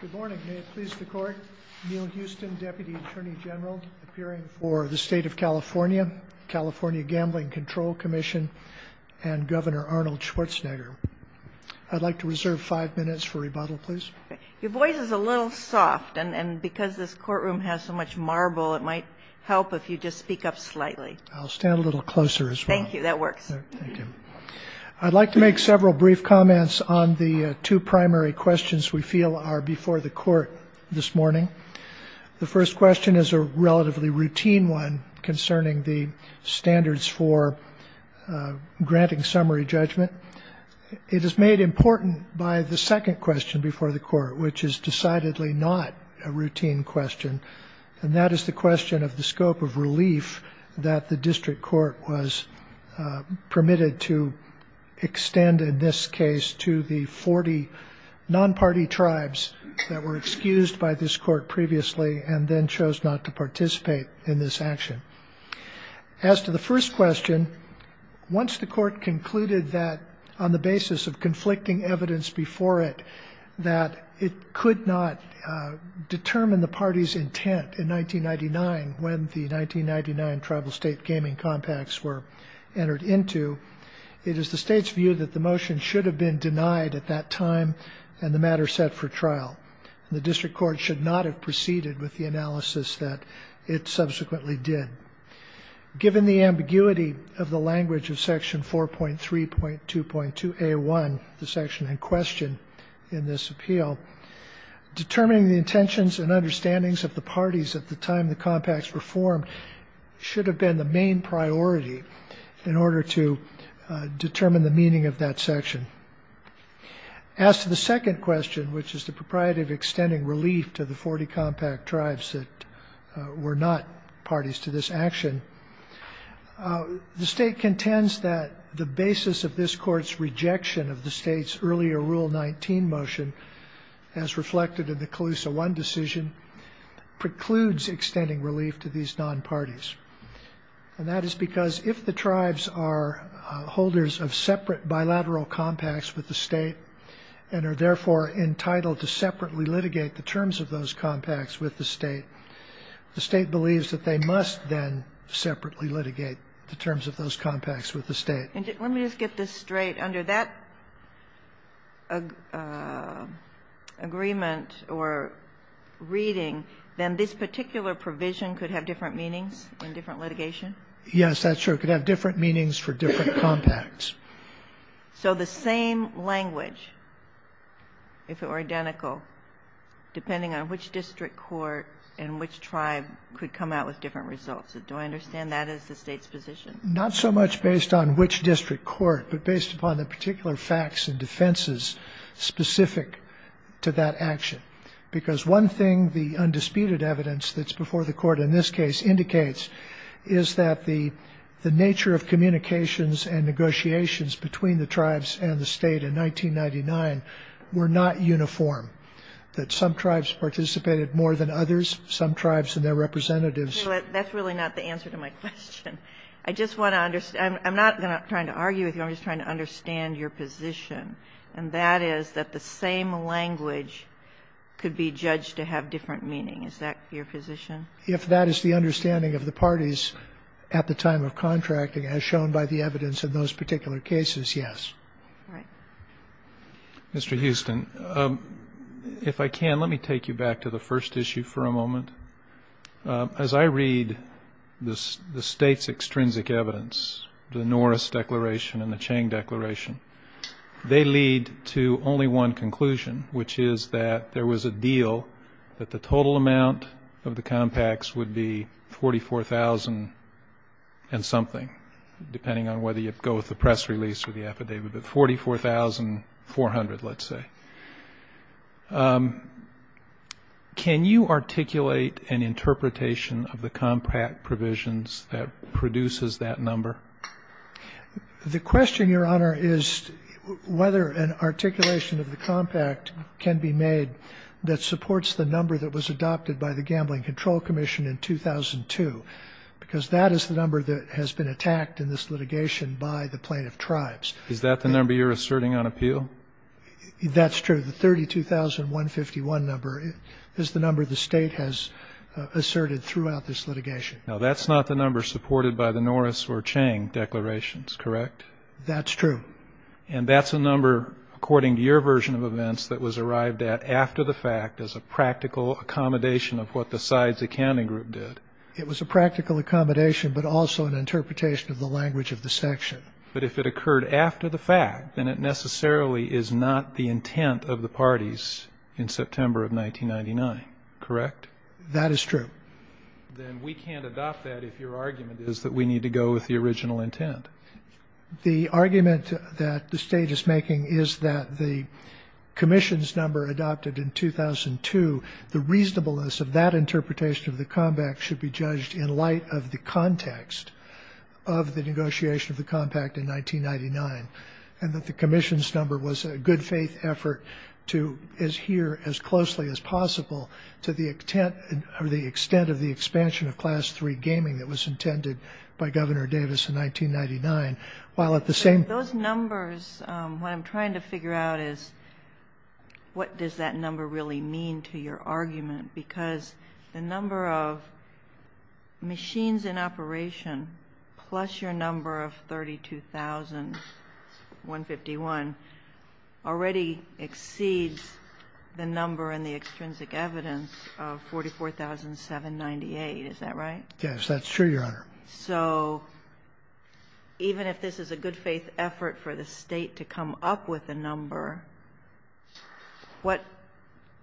Good morning. May it please the court, Neal Houston, Deputy Attorney General, appearing for the State of California, California Gambling Control Commission, and Governor Arnold Schwarzenegger. I'd like to reserve five minutes for rebuttal, please. Your voice is a little soft and because this courtroom has so much marble, it might help if you just speak up slightly. I'll stand a little closer as well. Thank you. That works. I'd like to make several brief comments on the two primary questions we feel are before the court this morning. The first question is a relatively routine one concerning the standards for granting summary judgment. It is made important by the second question before the court, which is decidedly not a routine question. And that is the question of the scope of relief that the district court was that were excused by this court previously, and then chose not to participate in this action. As to the first question, once the court concluded that on the basis of conflicting evidence before it, that it could not determine the party's intent in 1999, when the 1999 tribal state gaming compacts were entered into, it is the state's view that the motion should have been denied at that time and the matter set for trial. The district court should not have proceeded with the analysis that it subsequently did. Given the ambiguity of the language of section 4.3.2.2 a one, the section in question in this appeal, determining the intentions and understandings of the parties at the time the compacts were formed should have been the main priority in order to determine the meaning of that section. As to the second question, which is the proprietary of extending relief to the 40 compact tribes that were not parties to this action, the state contends that the basis of this court's rejection of the state's earlier rule 19 motion as reflected in the Calusa one decision precludes extending relief to these non-parties. And that is because if the tribes are holders of separate bilateral compacts with the state and are therefore entitled to separately litigate the terms of those compacts with the state, the state believes that they must then separately litigate the terms of those compacts with the state. Let me just get this straight under that agreement or reading, then this particular provision could have different meanings and different litigation. Yes, that's true. It could have different meanings for different compacts. So the same language, if it were identical, depending on which district court and which tribe could come out with different results, do I understand that as the state's position? Not so much based on which district court, but based upon the particular facts and defenses specific to that action. Because one thing, the undisputed evidence that's before the court in this case indicates is that the nature of communications and negotiations between the tribes and the state in 1999 were not uniform, that some tribes participated more than others, some tribes and their representatives. That's really not the answer to my question. I just want to understand, I'm not going to try to argue with you. I'm just trying to understand your position. And that is that the same language could be judged to have different meaning, is that your position? If that is the understanding of the parties at the time of contracting, as shown by the evidence of those particular cases, yes. Mr. Houston, if I can, let me take you back to the first issue for a moment. As I read the State's extrinsic evidence, the Norris Declaration and the Chang Declaration, they lead to only one conclusion, which is that there was a deal that the total amount of the compacts would be $44,000 and something, depending on whether you go with the press release or the affidavit, but $44,400, let's say. Can you articulate an interpretation of the compact provisions that produces that number? The question, Your Honor, is whether an articulation of the compact can be made that supports the number that was adopted by the Gambling Control Commission in 2002, because that is the number that has been attacked in this litigation by the plaintiff tribes. Is that the number you're asserting on appeal? That's true. The 32,151 number is the number the State has asserted throughout this litigation. Now that's not the number supported by the Norris or Chang declarations, correct? That's true. And that's a number, according to your version of events, that was arrived at after the fact as a practical accommodation of what the sides accounting group did. It was a practical accommodation, but also an interpretation of the language of the section. But if it occurred after the fact, then it necessarily is not the intent of the parties in September of 1999, correct? That is true. Then we can't adopt that if your argument is that we need to go with the original intent. The argument that the state is making is that the commission's number adopted in 2002, the reasonableness of that interpretation of the compact should be judged in light of the context of the negotiation of the compact in 1999, and that the commission's number was a good faith effort to adhere as closely as possible to the extent or the extent of the expansion of class three gaming that was intended by governor Davis in 1999. While at the same, those numbers, what I'm trying to figure out is what does that number really mean to your argument? Because the number of machines in operation, plus your number of 32,151 already exceeds the number in the extrinsic evidence of 44,798. Is that right? Yes. That's true, Your Honor. So even if this is a good faith effort for the state to come up with a number, what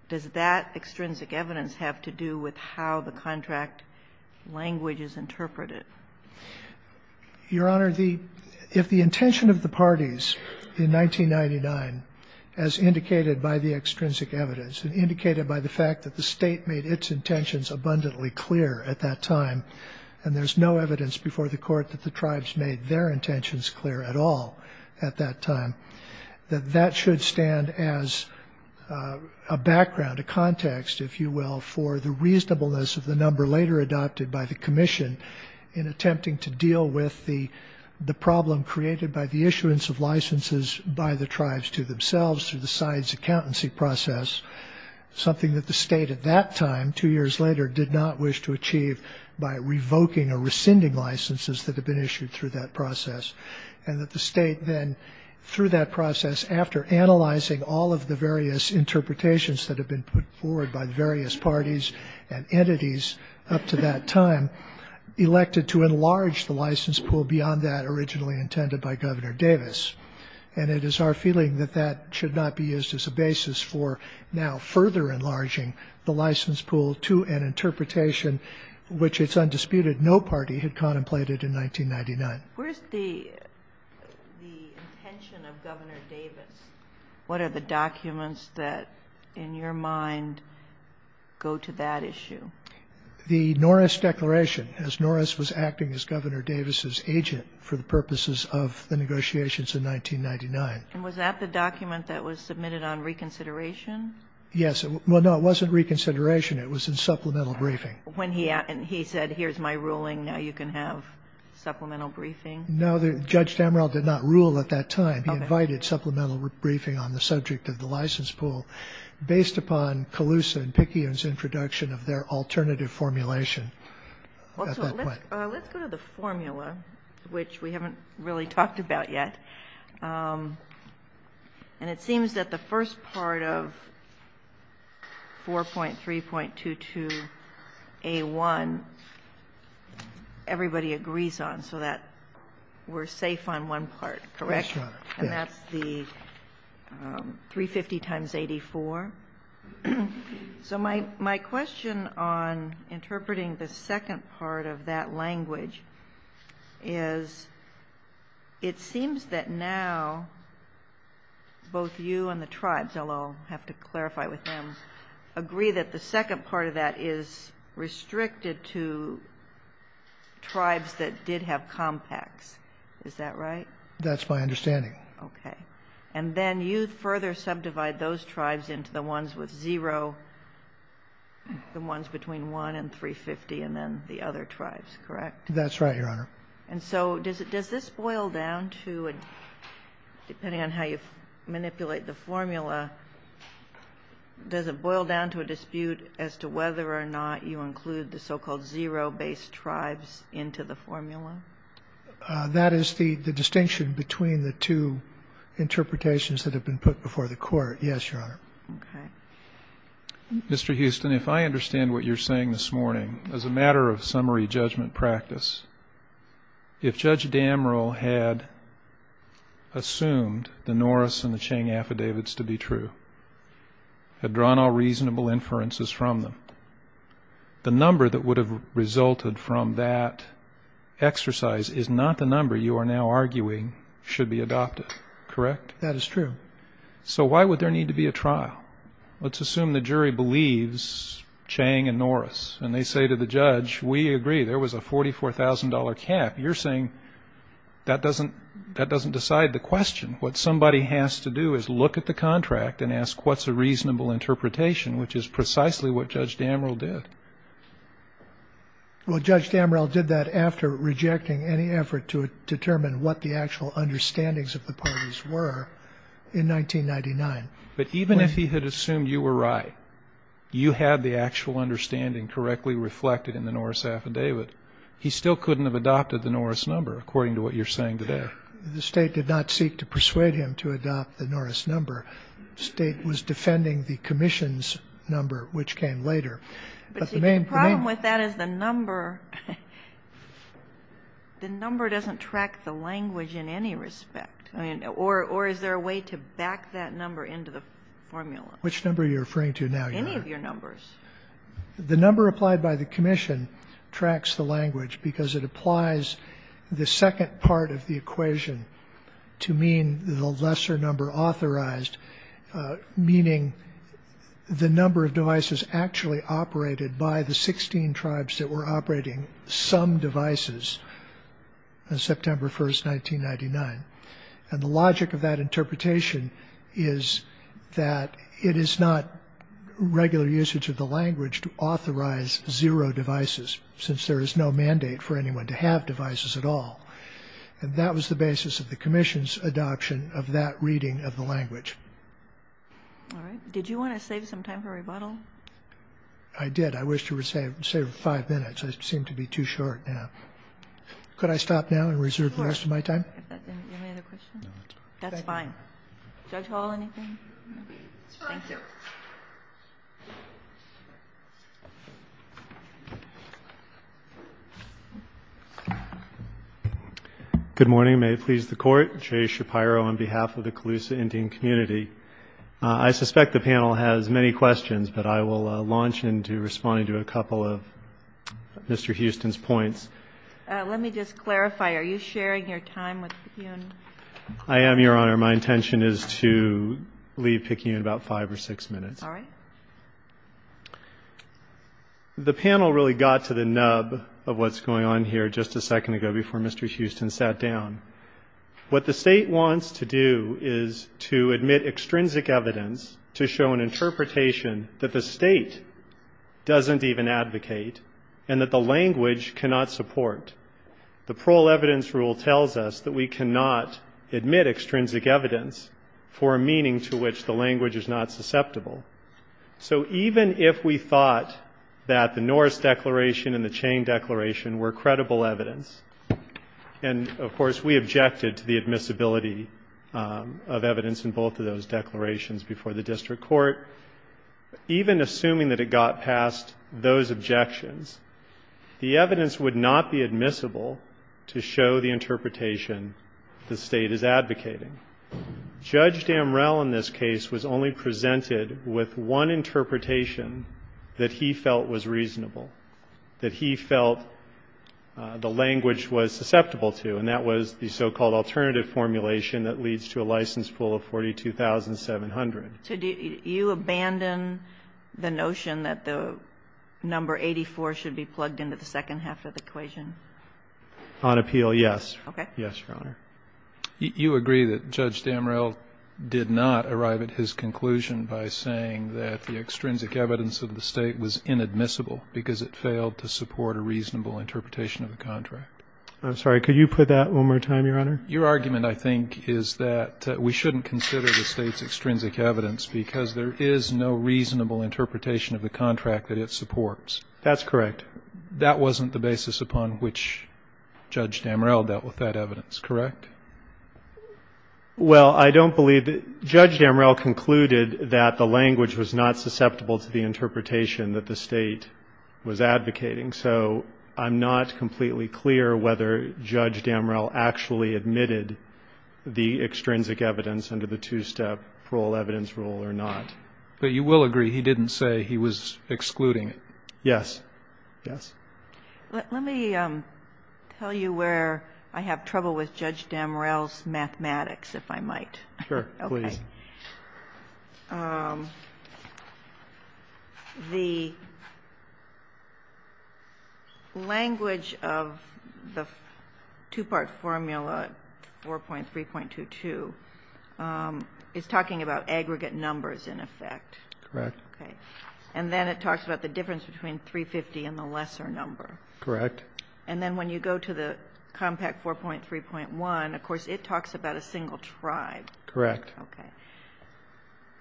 does that extrinsic evidence have to do with how the contract language is interpreted? Your Honor, the, if the intention of the parties in 1999, as indicated by the extrinsic evidence and indicated by the fact that the state made its intentions abundantly clear at that time, and there's no evidence before the court that the tribes made their intentions clear at all at that time, that that should stand as a background, a context, if you will, for the reasonableness of the number later adopted by the commission in attempting to deal with the problem created by the issuance of licenses by the tribes to themselves through the sides accountancy process, something that the state at that time, two years later, did not wish to achieve by revoking or rescinding licenses that have been issued through that process and that the state then through that process, after analyzing all of the various interpretations that have been put forward by the various parties and entities up to that time, elected to enlarge the license pool beyond that originally intended by Governor Davis. And it is our feeling that that should not be used as a basis for now further enlarging the license pool to an interpretation, which it's undisputed, no party had contemplated in 1999. Where's the, the intention of Governor Davis? What are the documents that in your mind go to that issue? The Norris declaration, as Norris was acting as Governor Davis's agent for the negotiations in 1999. And was that the document that was submitted on reconsideration? Yes. Well, no, it wasn't reconsideration. It was in supplemental briefing. When he, and he said, here's my ruling. Now you can have supplemental briefing. No, the judge did not rule at that time. He invited supplemental briefing on the subject of the license pool based upon Colusa and Picayune's introduction of their alternative formulation. Well, let's go to the formula, which we haven't really talked about yet. And it seems that the first part of 4.3.22A1, everybody agrees on. So that we're safe on one part, correct? And that's the 350 times 84. So my, my question on interpreting the second part of that language is it seems that now both you and the tribes, although I'll have to clarify with them, agree that the second part of that is restricted to tribes that did have compacts. Is that right? That's my understanding. Okay. And then you further subdivide those tribes into the ones with zero, the ones between one and 350, and then the other tribes, correct? That's right, Your Honor. And so does it, does this boil down to, depending on how you manipulate the formula, does it boil down to a dispute as to whether or not you include the so-called zero based tribes into the formula? That is the distinction between the two interpretations that have been put before the court. Yes, Your Honor. Mr. Houston, if I understand what you're saying this morning, as a matter of summary judgment practice, if Judge Damrell had assumed the Norris and the Chang affidavits to be true, had drawn all reasonable inferences from them, the number that would have resulted from that exercise is not the number you are now arguing should be adopted, correct? That is true. So why would there need to be a trial? Let's assume the jury believes Chang and Norris, and they say to the judge, we agree there was a $44,000 cap. You're saying that doesn't, that doesn't decide the question. What somebody has to do is look at the contract and ask what's a reasonable interpretation, which is precisely what Judge Damrell did. Well, Judge Damrell did that after rejecting any effort to determine what the actual understandings of the parties were in 1999. But even if he had assumed you were right, you had the actual understanding correctly reflected in the Norris affidavit, he still couldn't have adopted the Norris number, according to what you're saying today. The state did not seek to persuade him to adopt the Norris number. State was defending the commission's number, which came later. But the main problem with that is the number, the number doesn't track the language in any respect, or is there a way to back that number into the formula? Which number are you referring to now? Any of your numbers. The number applied by the commission tracks the language because it applies the second part of the equation to mean the lesser number authorized, meaning the number of devices actually operated by the 16 tribes that were operating some devices on September 1st, 1999. And the logic of that interpretation is that it is not regular usage of the language to authorize zero devices, since there is no mandate for anyone to have devices at all. And that was the basis of the commission's adoption of that reading of the language. All right. Did you want to save some time for rebuttal? I did. I wish you would save, save five minutes. I seem to be too short now. Could I stop now and reserve the rest of my time? Of course. Any other questions? No, that's fine. That's fine. Judge Hall, anything? No, that's fine. Thank you. Good morning. May it please the Court. Jay Shapiro on behalf of the Colusa Indian Community. I suspect the panel has many questions, but I will launch into responding to a couple of Mr. Houston's points. Let me just clarify. Are you sharing your time with Picayune? I am, Your Honor. My intention is to leave Picayune in about five or six minutes. All right. The panel really got to the nub of what's going on here just a second ago before Mr. Houston sat down. What the state wants to do is to admit extrinsic evidence to show an interpretation that the state doesn't even advocate and that the language cannot support. The parole evidence rule tells us that we cannot admit extrinsic evidence for a meaning to which the language is not susceptible. So even if we thought that the Norris Declaration and the Chang Declaration were credible evidence, and of course, we objected to the admissibility of evidence in both of those declarations before the district court, even assuming that it got past those objections, the evidence would not be admissible to show the interpretation the state is advocating. Judge Damrell in this case was only presented with one interpretation that he felt the language was susceptible to, and that was the so-called alternative formulation that leads to a license pool of 42,700. So do you abandon the notion that the number 84 should be plugged into the second half of the equation? On appeal, yes. Okay. Yes, Your Honor. You agree that Judge Damrell did not arrive at his conclusion by saying that the language was not susceptible to the interpretation that the state was advocating. I'm sorry. Could you put that one more time, Your Honor? Your argument, I think, is that we shouldn't consider the state's extrinsic evidence because there is no reasonable interpretation of the contract that it supports. That's correct. That wasn't the basis upon which Judge Damrell dealt with that evidence, correct? Well, I don't believe that Judge Damrell concluded that the language was not susceptible to the interpretation that the state was advocating. So I'm not completely clear whether Judge Damrell actually admitted the extrinsic evidence under the two-step parole evidence rule or not. But you will agree he didn't say he was excluding it. Yes. Yes. Let me tell you where I have trouble with Judge Damrell's mathematics, if I might. Sure. Okay. The language of the two-part formula, 4.3.22, is talking about aggregate numbers, in effect. Correct. Okay. And then it talks about the difference between 350 and the lesser number. Correct. And then when you go to the compact 4.3.1, of course, it talks about a single tribe. Correct. Okay.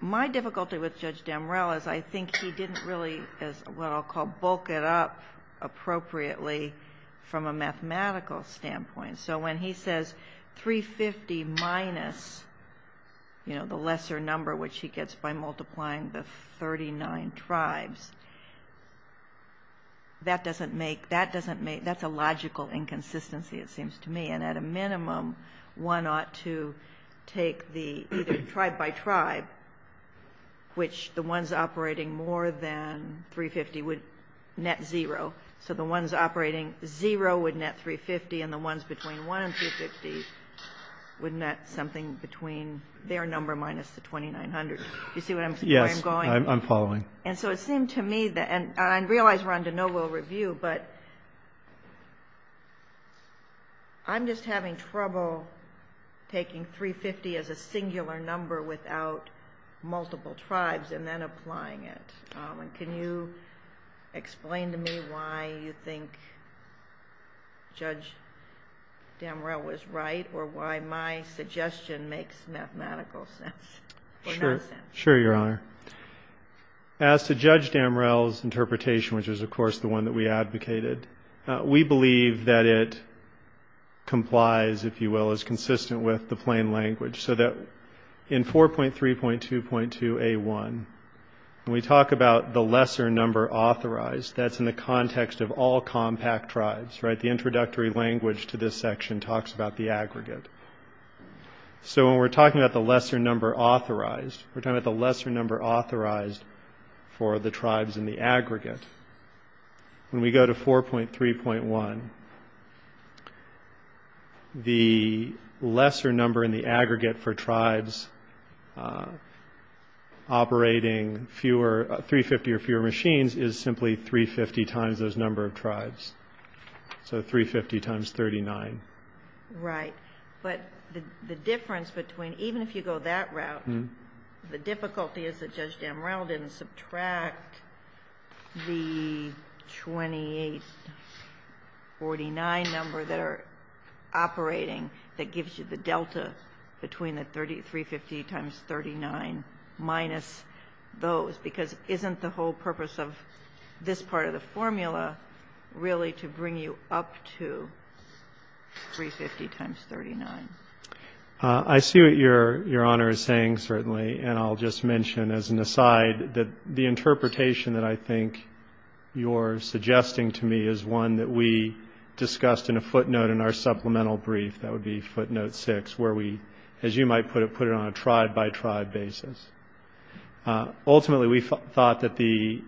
My difficulty with Judge Damrell is I think he didn't really, as what I'll call, bulk it up appropriately from a mathematical standpoint. So when he says 350 minus the lesser number, which he gets by multiplying the 39 tribes, that's a logical inconsistency, it seems to me. And at a minimum, one ought to take the tribe by tribe, which the ones operating more than 350 would net zero. So the ones operating zero would net 350, and the ones between one and 350 would net something between their number minus the 2,900. Do you see where I'm going? Yes, I'm following. And so it seemed to me that, and I realize we're on to no-will review, but I'm just having trouble taking 350 as a singular number without multiple tribes and then applying it. Can you explain to me why you think Judge Damrell was right, or why my suggestion makes mathematical sense? Sure, Your Honor. As to Judge Damrell's interpretation, which is, of course, the one that we advocated, we believe that it complies, if you will, is consistent with the plain 1. When we talk about the lesser number authorized, that's in the context of all compact tribes, right? The introductory language to this section talks about the aggregate. So when we're talking about the lesser number authorized, we're talking about the lesser number authorized for the tribes in the aggregate. When we go to 4.3.1, the lesser number in the aggregate for tribes operating fewer, 350 or fewer machines is simply 350 times those number of tribes. So 350 times 39. Right. But the difference between, even if you go that route, the difficulty is that 32849 number that are operating, that gives you the delta between the 350 times 39 minus those, because isn't the whole purpose of this part of the formula really to bring you up to 350 times 39? I see what Your Honor is saying, certainly, and I'll just mention as an aside that the interpretation that I think you're suggesting to me is one that we discussed in a footnote in our supplemental brief, that would be footnote six, where we, as you might put it, put it on a tribe by tribe basis. Ultimately, we thought that the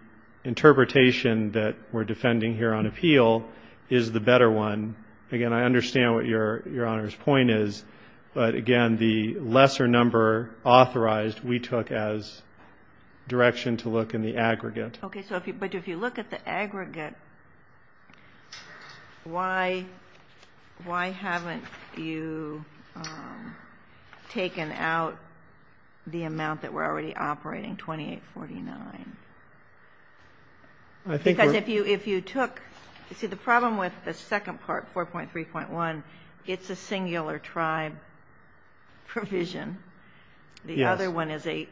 interpretation that we're defending here on appeal is the better one. Again, I understand what Your Honor's point is, but again, the lesser number authorized, we took as direction to look in the aggregate. Okay. So if you, but if you look at the aggregate, why haven't you taken out the amount that we're already operating, 2849? Because if you took, you see the problem with the second part, 4.3.1, it's a little bit different. The other one is a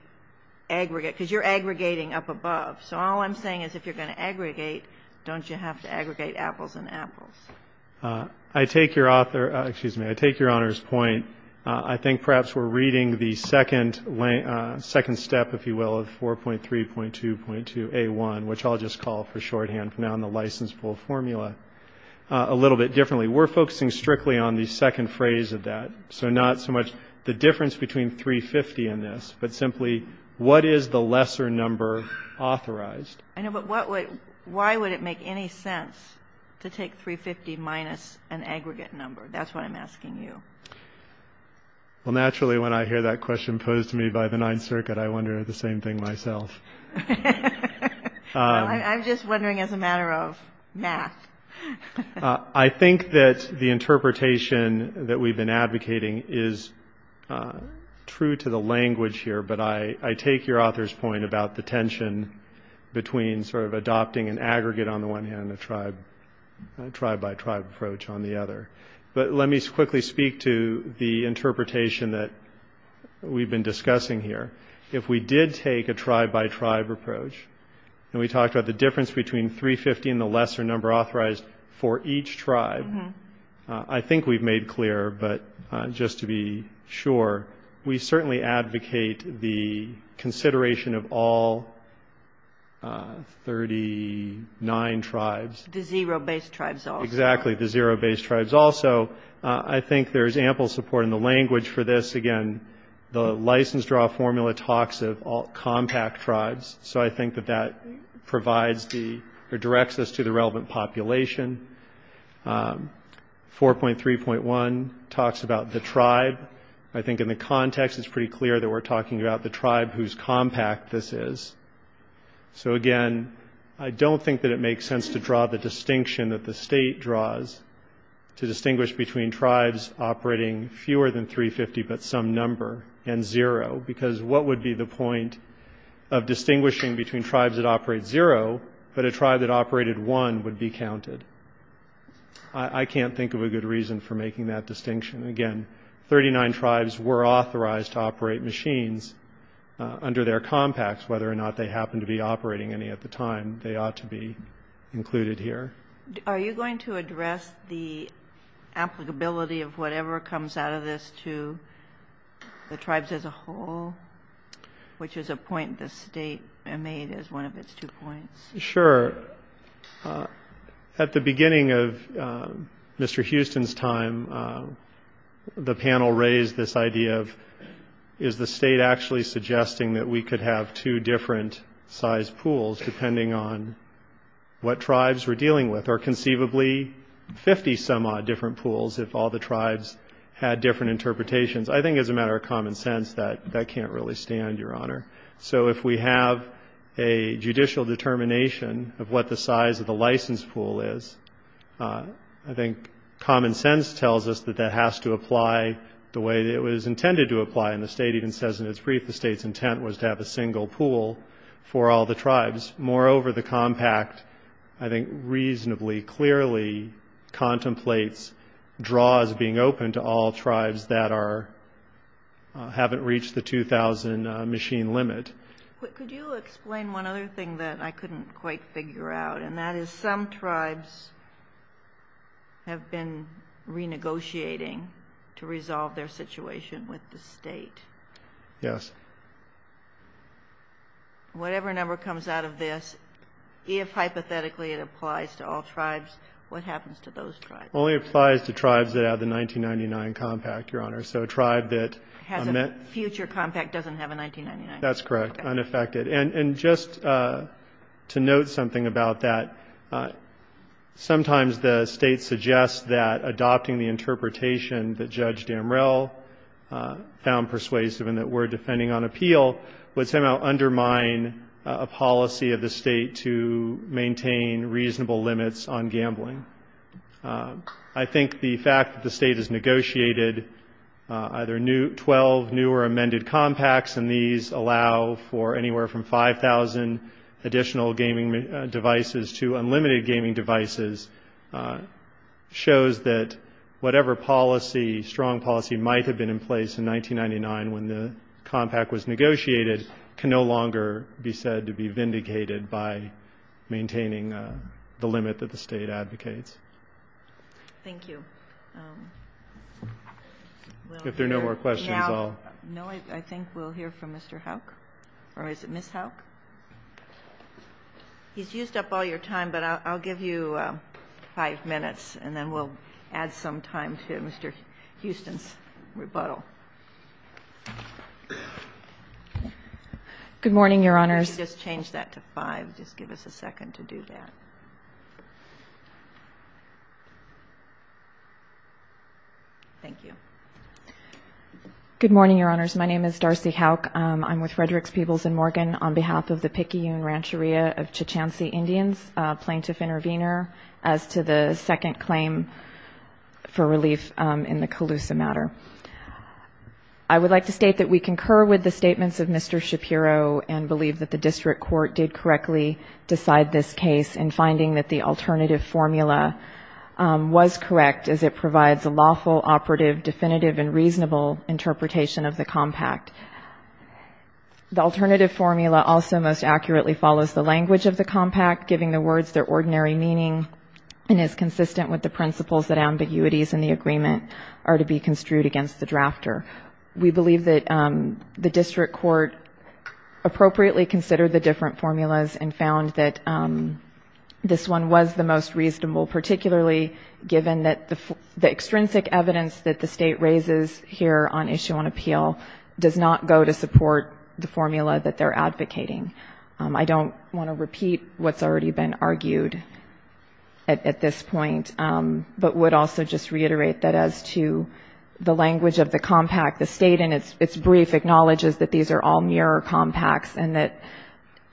aggregate, because you're aggregating up above. So all I'm saying is if you're going to aggregate, don't you have to aggregate apples and apples? I take your author, excuse me, I take Your Honor's point. I think perhaps we're reading the second step, if you will, of 4.3.2.2a1, which I'll just call for shorthand from now on the licenseable formula a little bit differently. We're focusing strictly on the second phrase of that. So not so much the difference between 350 and this, but simply what is the lesser number authorized? I know, but what would, why would it make any sense to take 350 minus an aggregate number? That's what I'm asking you. Well, naturally, when I hear that question posed to me by the Ninth Circuit, I wonder the same thing myself. I'm just wondering as a matter of math. I think that the interpretation that we've been advocating is true to the language here, but I take your author's point about the tension between sort of adopting an aggregate on the one hand, a tribe by tribe approach on the other. But let me quickly speak to the interpretation that we've been discussing here. If we did take a tribe by tribe approach, and we talked about the difference between 350 and the lesser number authorized for each tribe, I think we've made clear, but just to be sure, we certainly advocate the consideration of all 39 tribes. The zero-based tribes also. Exactly. The zero-based tribes also. I think there's ample support in the language for this. Again, the license draw formula talks of all compact tribes. So I think that that provides or directs us to the relevant population. 4.3.1 talks about the tribe. I think in the context, it's pretty clear that we're talking about the tribe whose compact this is. So again, I don't think that it makes sense to draw the distinction that the state draws to distinguish between tribes operating fewer than 350, but some number, and zero, because what would be the point of distinguishing between tribes that operate zero, but a tribe that operated one would be counted? I can't think of a good reason for making that distinction. Again, 39 tribes were authorized to operate machines under their compacts, whether or not they happened to be operating any at the time. They ought to be included here. Are you going to address the applicability of whatever comes out of this to the tribes as a whole, which is a point the state made as one of its two points? Sure. At the beginning of Mr. Houston's time, the panel raised this idea of, is the state actually suggesting that we could have two different size pools depending on what tribes we're dealing with, or conceivably 50 some odd different pools if all the tribes had different interpretations? I think as a matter of common sense, that can't really stand, Your Honor. So if we have a judicial determination of what the size of the license pool is, I think common sense tells us that that has to apply the way that it was intended to apply. And the state even says in its brief, the state's intent was to have a single pool for all the tribes. Moreover, the compact, I think, reasonably clearly contemplates draws being open to all tribes that haven't reached the 2,000 machine limit. Could you explain one other thing that I couldn't quite figure out? And that is, some tribes have been renegotiating to resolve their situation with the state. Yes. Whatever number comes out of this, if hypothetically it applies to all tribes, what happens to those tribes? Only applies to tribes that have the 1999 compact, Your Honor. So a tribe that has a future compact doesn't have a 1999. That's correct. Unaffected. And just to note something about that, sometimes the state suggests that adopting the interpretation that Judge Damrell found persuasive and that we're defending on appeal would somehow undermine a policy of the state to maintain reasonable limits on gambling. I think the fact that the state has negotiated either 12 new or amended compacts, and these allow for anywhere from 5,000 additional gaming devices to unlimited gaming devices, shows that whatever policy, strong policy, might have been in place in 1999 when the compact was negotiated can no longer be said to be vindicated by maintaining the limit that the state advocates. Thank you. If there are no more questions, I'll... No, I think we'll hear from Mr. Houck or is it Ms. Houck? He's used up all your time, but I'll give you five minutes and then we'll add some time to Mr. Houston's rebuttal. Good morning, Your Honors. If you could just change that to five, just give us a second to do that. Thank you. Good morning, Your Honors. My name is Darcy Houck. I'm with Fredericks, Peebles & Morgan on behalf of the Picayune Rancheria of Chichancee Indians, plaintiff intervener, as to the second claim for relief in the Calusa matter. I would like to state that we concur with the statements of Mr. Shapiro and believe that the district court did correctly decide this case in a way that is correct as it provides a lawful, operative, definitive, and reasonable interpretation of the compact. The alternative formula also most accurately follows the language of the compact, giving the words their ordinary meaning and is consistent with the principles that ambiguities in the agreement are to be construed against the drafter. We believe that the district court appropriately considered the different and that the extrinsic evidence that the state raises here on issue and appeal does not go to support the formula that they're advocating. I don't want to repeat what's already been argued at this point, but would also just reiterate that as to the language of the compact, the state in its brief acknowledges that these are all mirror compacts and that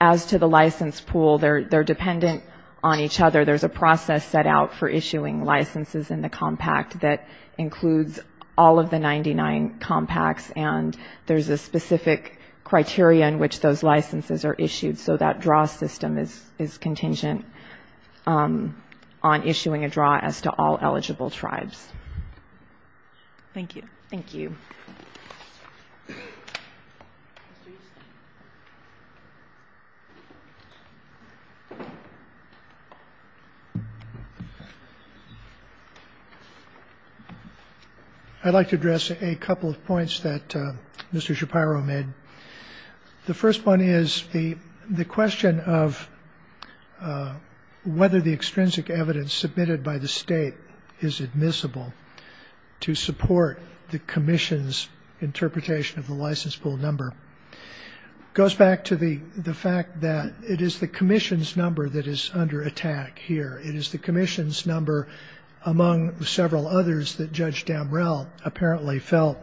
as to the license pool, they're dependent on each other. There's a process set out for issuing licenses in the compact that includes all of the 99 compacts and there's a specific criteria in which those licenses are issued. So that draw system is contingent on issuing a draw as to all eligible tribes. Thank you. Thank you. I'd like to address a couple of points that Mr. Shapiro made. The first one is the question of whether the extrinsic evidence submitted by the state is admissible to support the commission's interpretation of the license pool number goes back to the fact that it is the commission's number that is under attack here. It is the commission's number among several others that judge Damrell apparently felt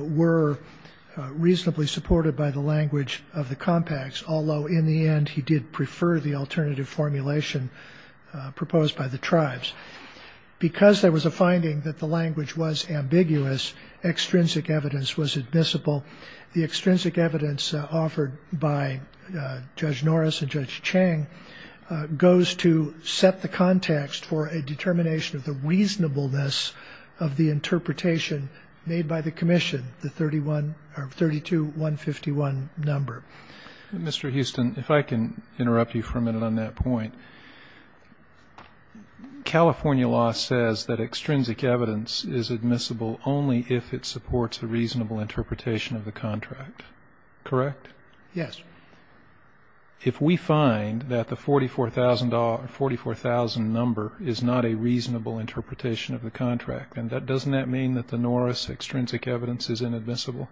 were reasonably supported by the language of the compacts. Although in the end he did prefer the alternative formulation proposed by the tribes because there was a finding that the language was ambiguous. Extrinsic evidence was admissible. The extrinsic evidence offered by Judge Norris and Judge Chang goes to set the context for a determination of the reasonableness of the interpretation made by the commission. The 31 or 32 151 number. Mr. Houston if I can interrupt you for a minute on that point. California law says that extrinsic evidence is admissible only if it supports a reasonable interpretation of the contract correct. Yes. If we find that the forty four thousand dollar forty four thousand number is not a reasonable interpretation of the contract and that doesn't that mean that the Norris extrinsic evidence is inadmissible.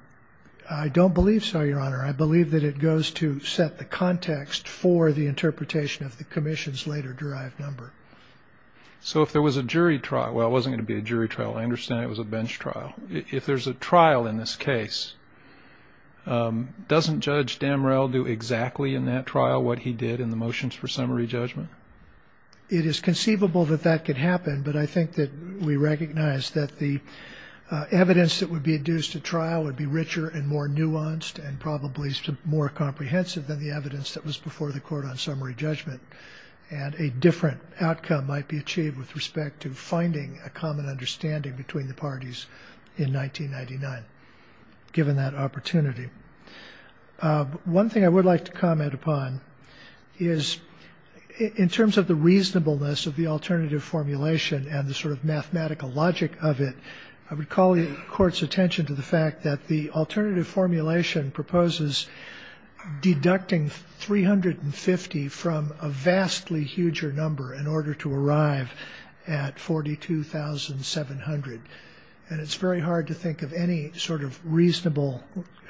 I don't believe so Your Honor. I believe that it goes to set the context for the interpretation of the commission's later drive number. So if there was a jury trial well it wasn't going to be a jury trial. I understand it was a bench trial. If there's a trial in this case doesn't Judge Damrell do exactly in that trial what he did in the motions for summary judgment. It is conceivable that that could happen but I think that we recognize that the evidence that would be adduced to trial would be richer and more nuanced and probably more comprehensive than the evidence that was before the court on summary judgment and a different outcome might be achieved with respect to finding a common understanding between the parties in 1999. Given that opportunity one thing I would like to comment upon is in terms of the reasonableness of the alternative formulation and the sort of mathematical logic of it I would call the court's attention to the fact that the alternative formulation proposes deducting three hundred and fifty from a vastly huger number in forty two thousand seven hundred and it's very hard to think of any sort of reasonable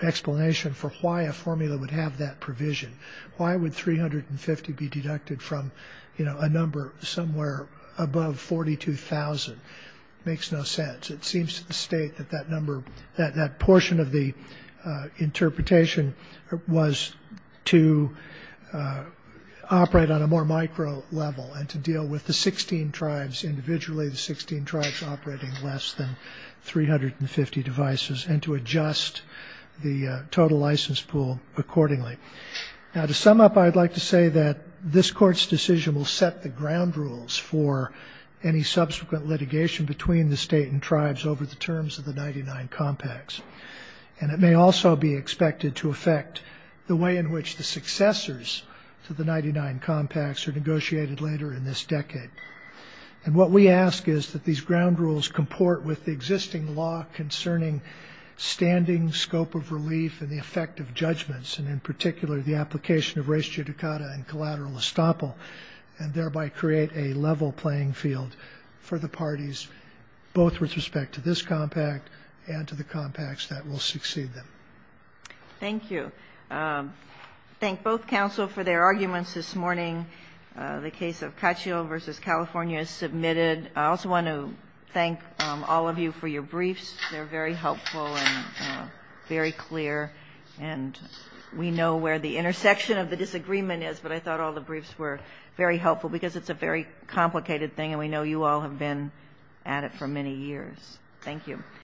explanation for why a formula would have that provision. Why would three hundred and fifty be deducted from a number somewhere above forty two thousand makes no sense. It seems to state that that number that portion of the interpretation was to operate on a more micro level and to deal with the sixteen tribes individually the sixteen tribes operating less than three hundred and fifty devices and to adjust the total license pool accordingly. Now to sum up I'd like to say that this court's decision will set the ground rules for any subsequent litigation between the state and tribes over the terms of the ninety nine compacts and it may also be expected to affect the way in which the successors to the ninety nine compacts are negotiated later in this decade. And what we ask is that these ground rules comport with the existing law concerning standing scope of relief and the effect of judgments and in particular the application of res judicata and collateral estoppel and thereby create a level playing field for the parties both with respect to this compact and to the compacts that will succeed them. Thank you. I thank both counsel for their arguments this morning. The case of Cacio versus California is submitted. I also want to thank all of you for your briefs. They're very helpful and very clear and we know where the intersection of the disagreement is but I thought all the briefs were very helpful because it's a very complicated thing and we know you all have been at it for many years. Thank you.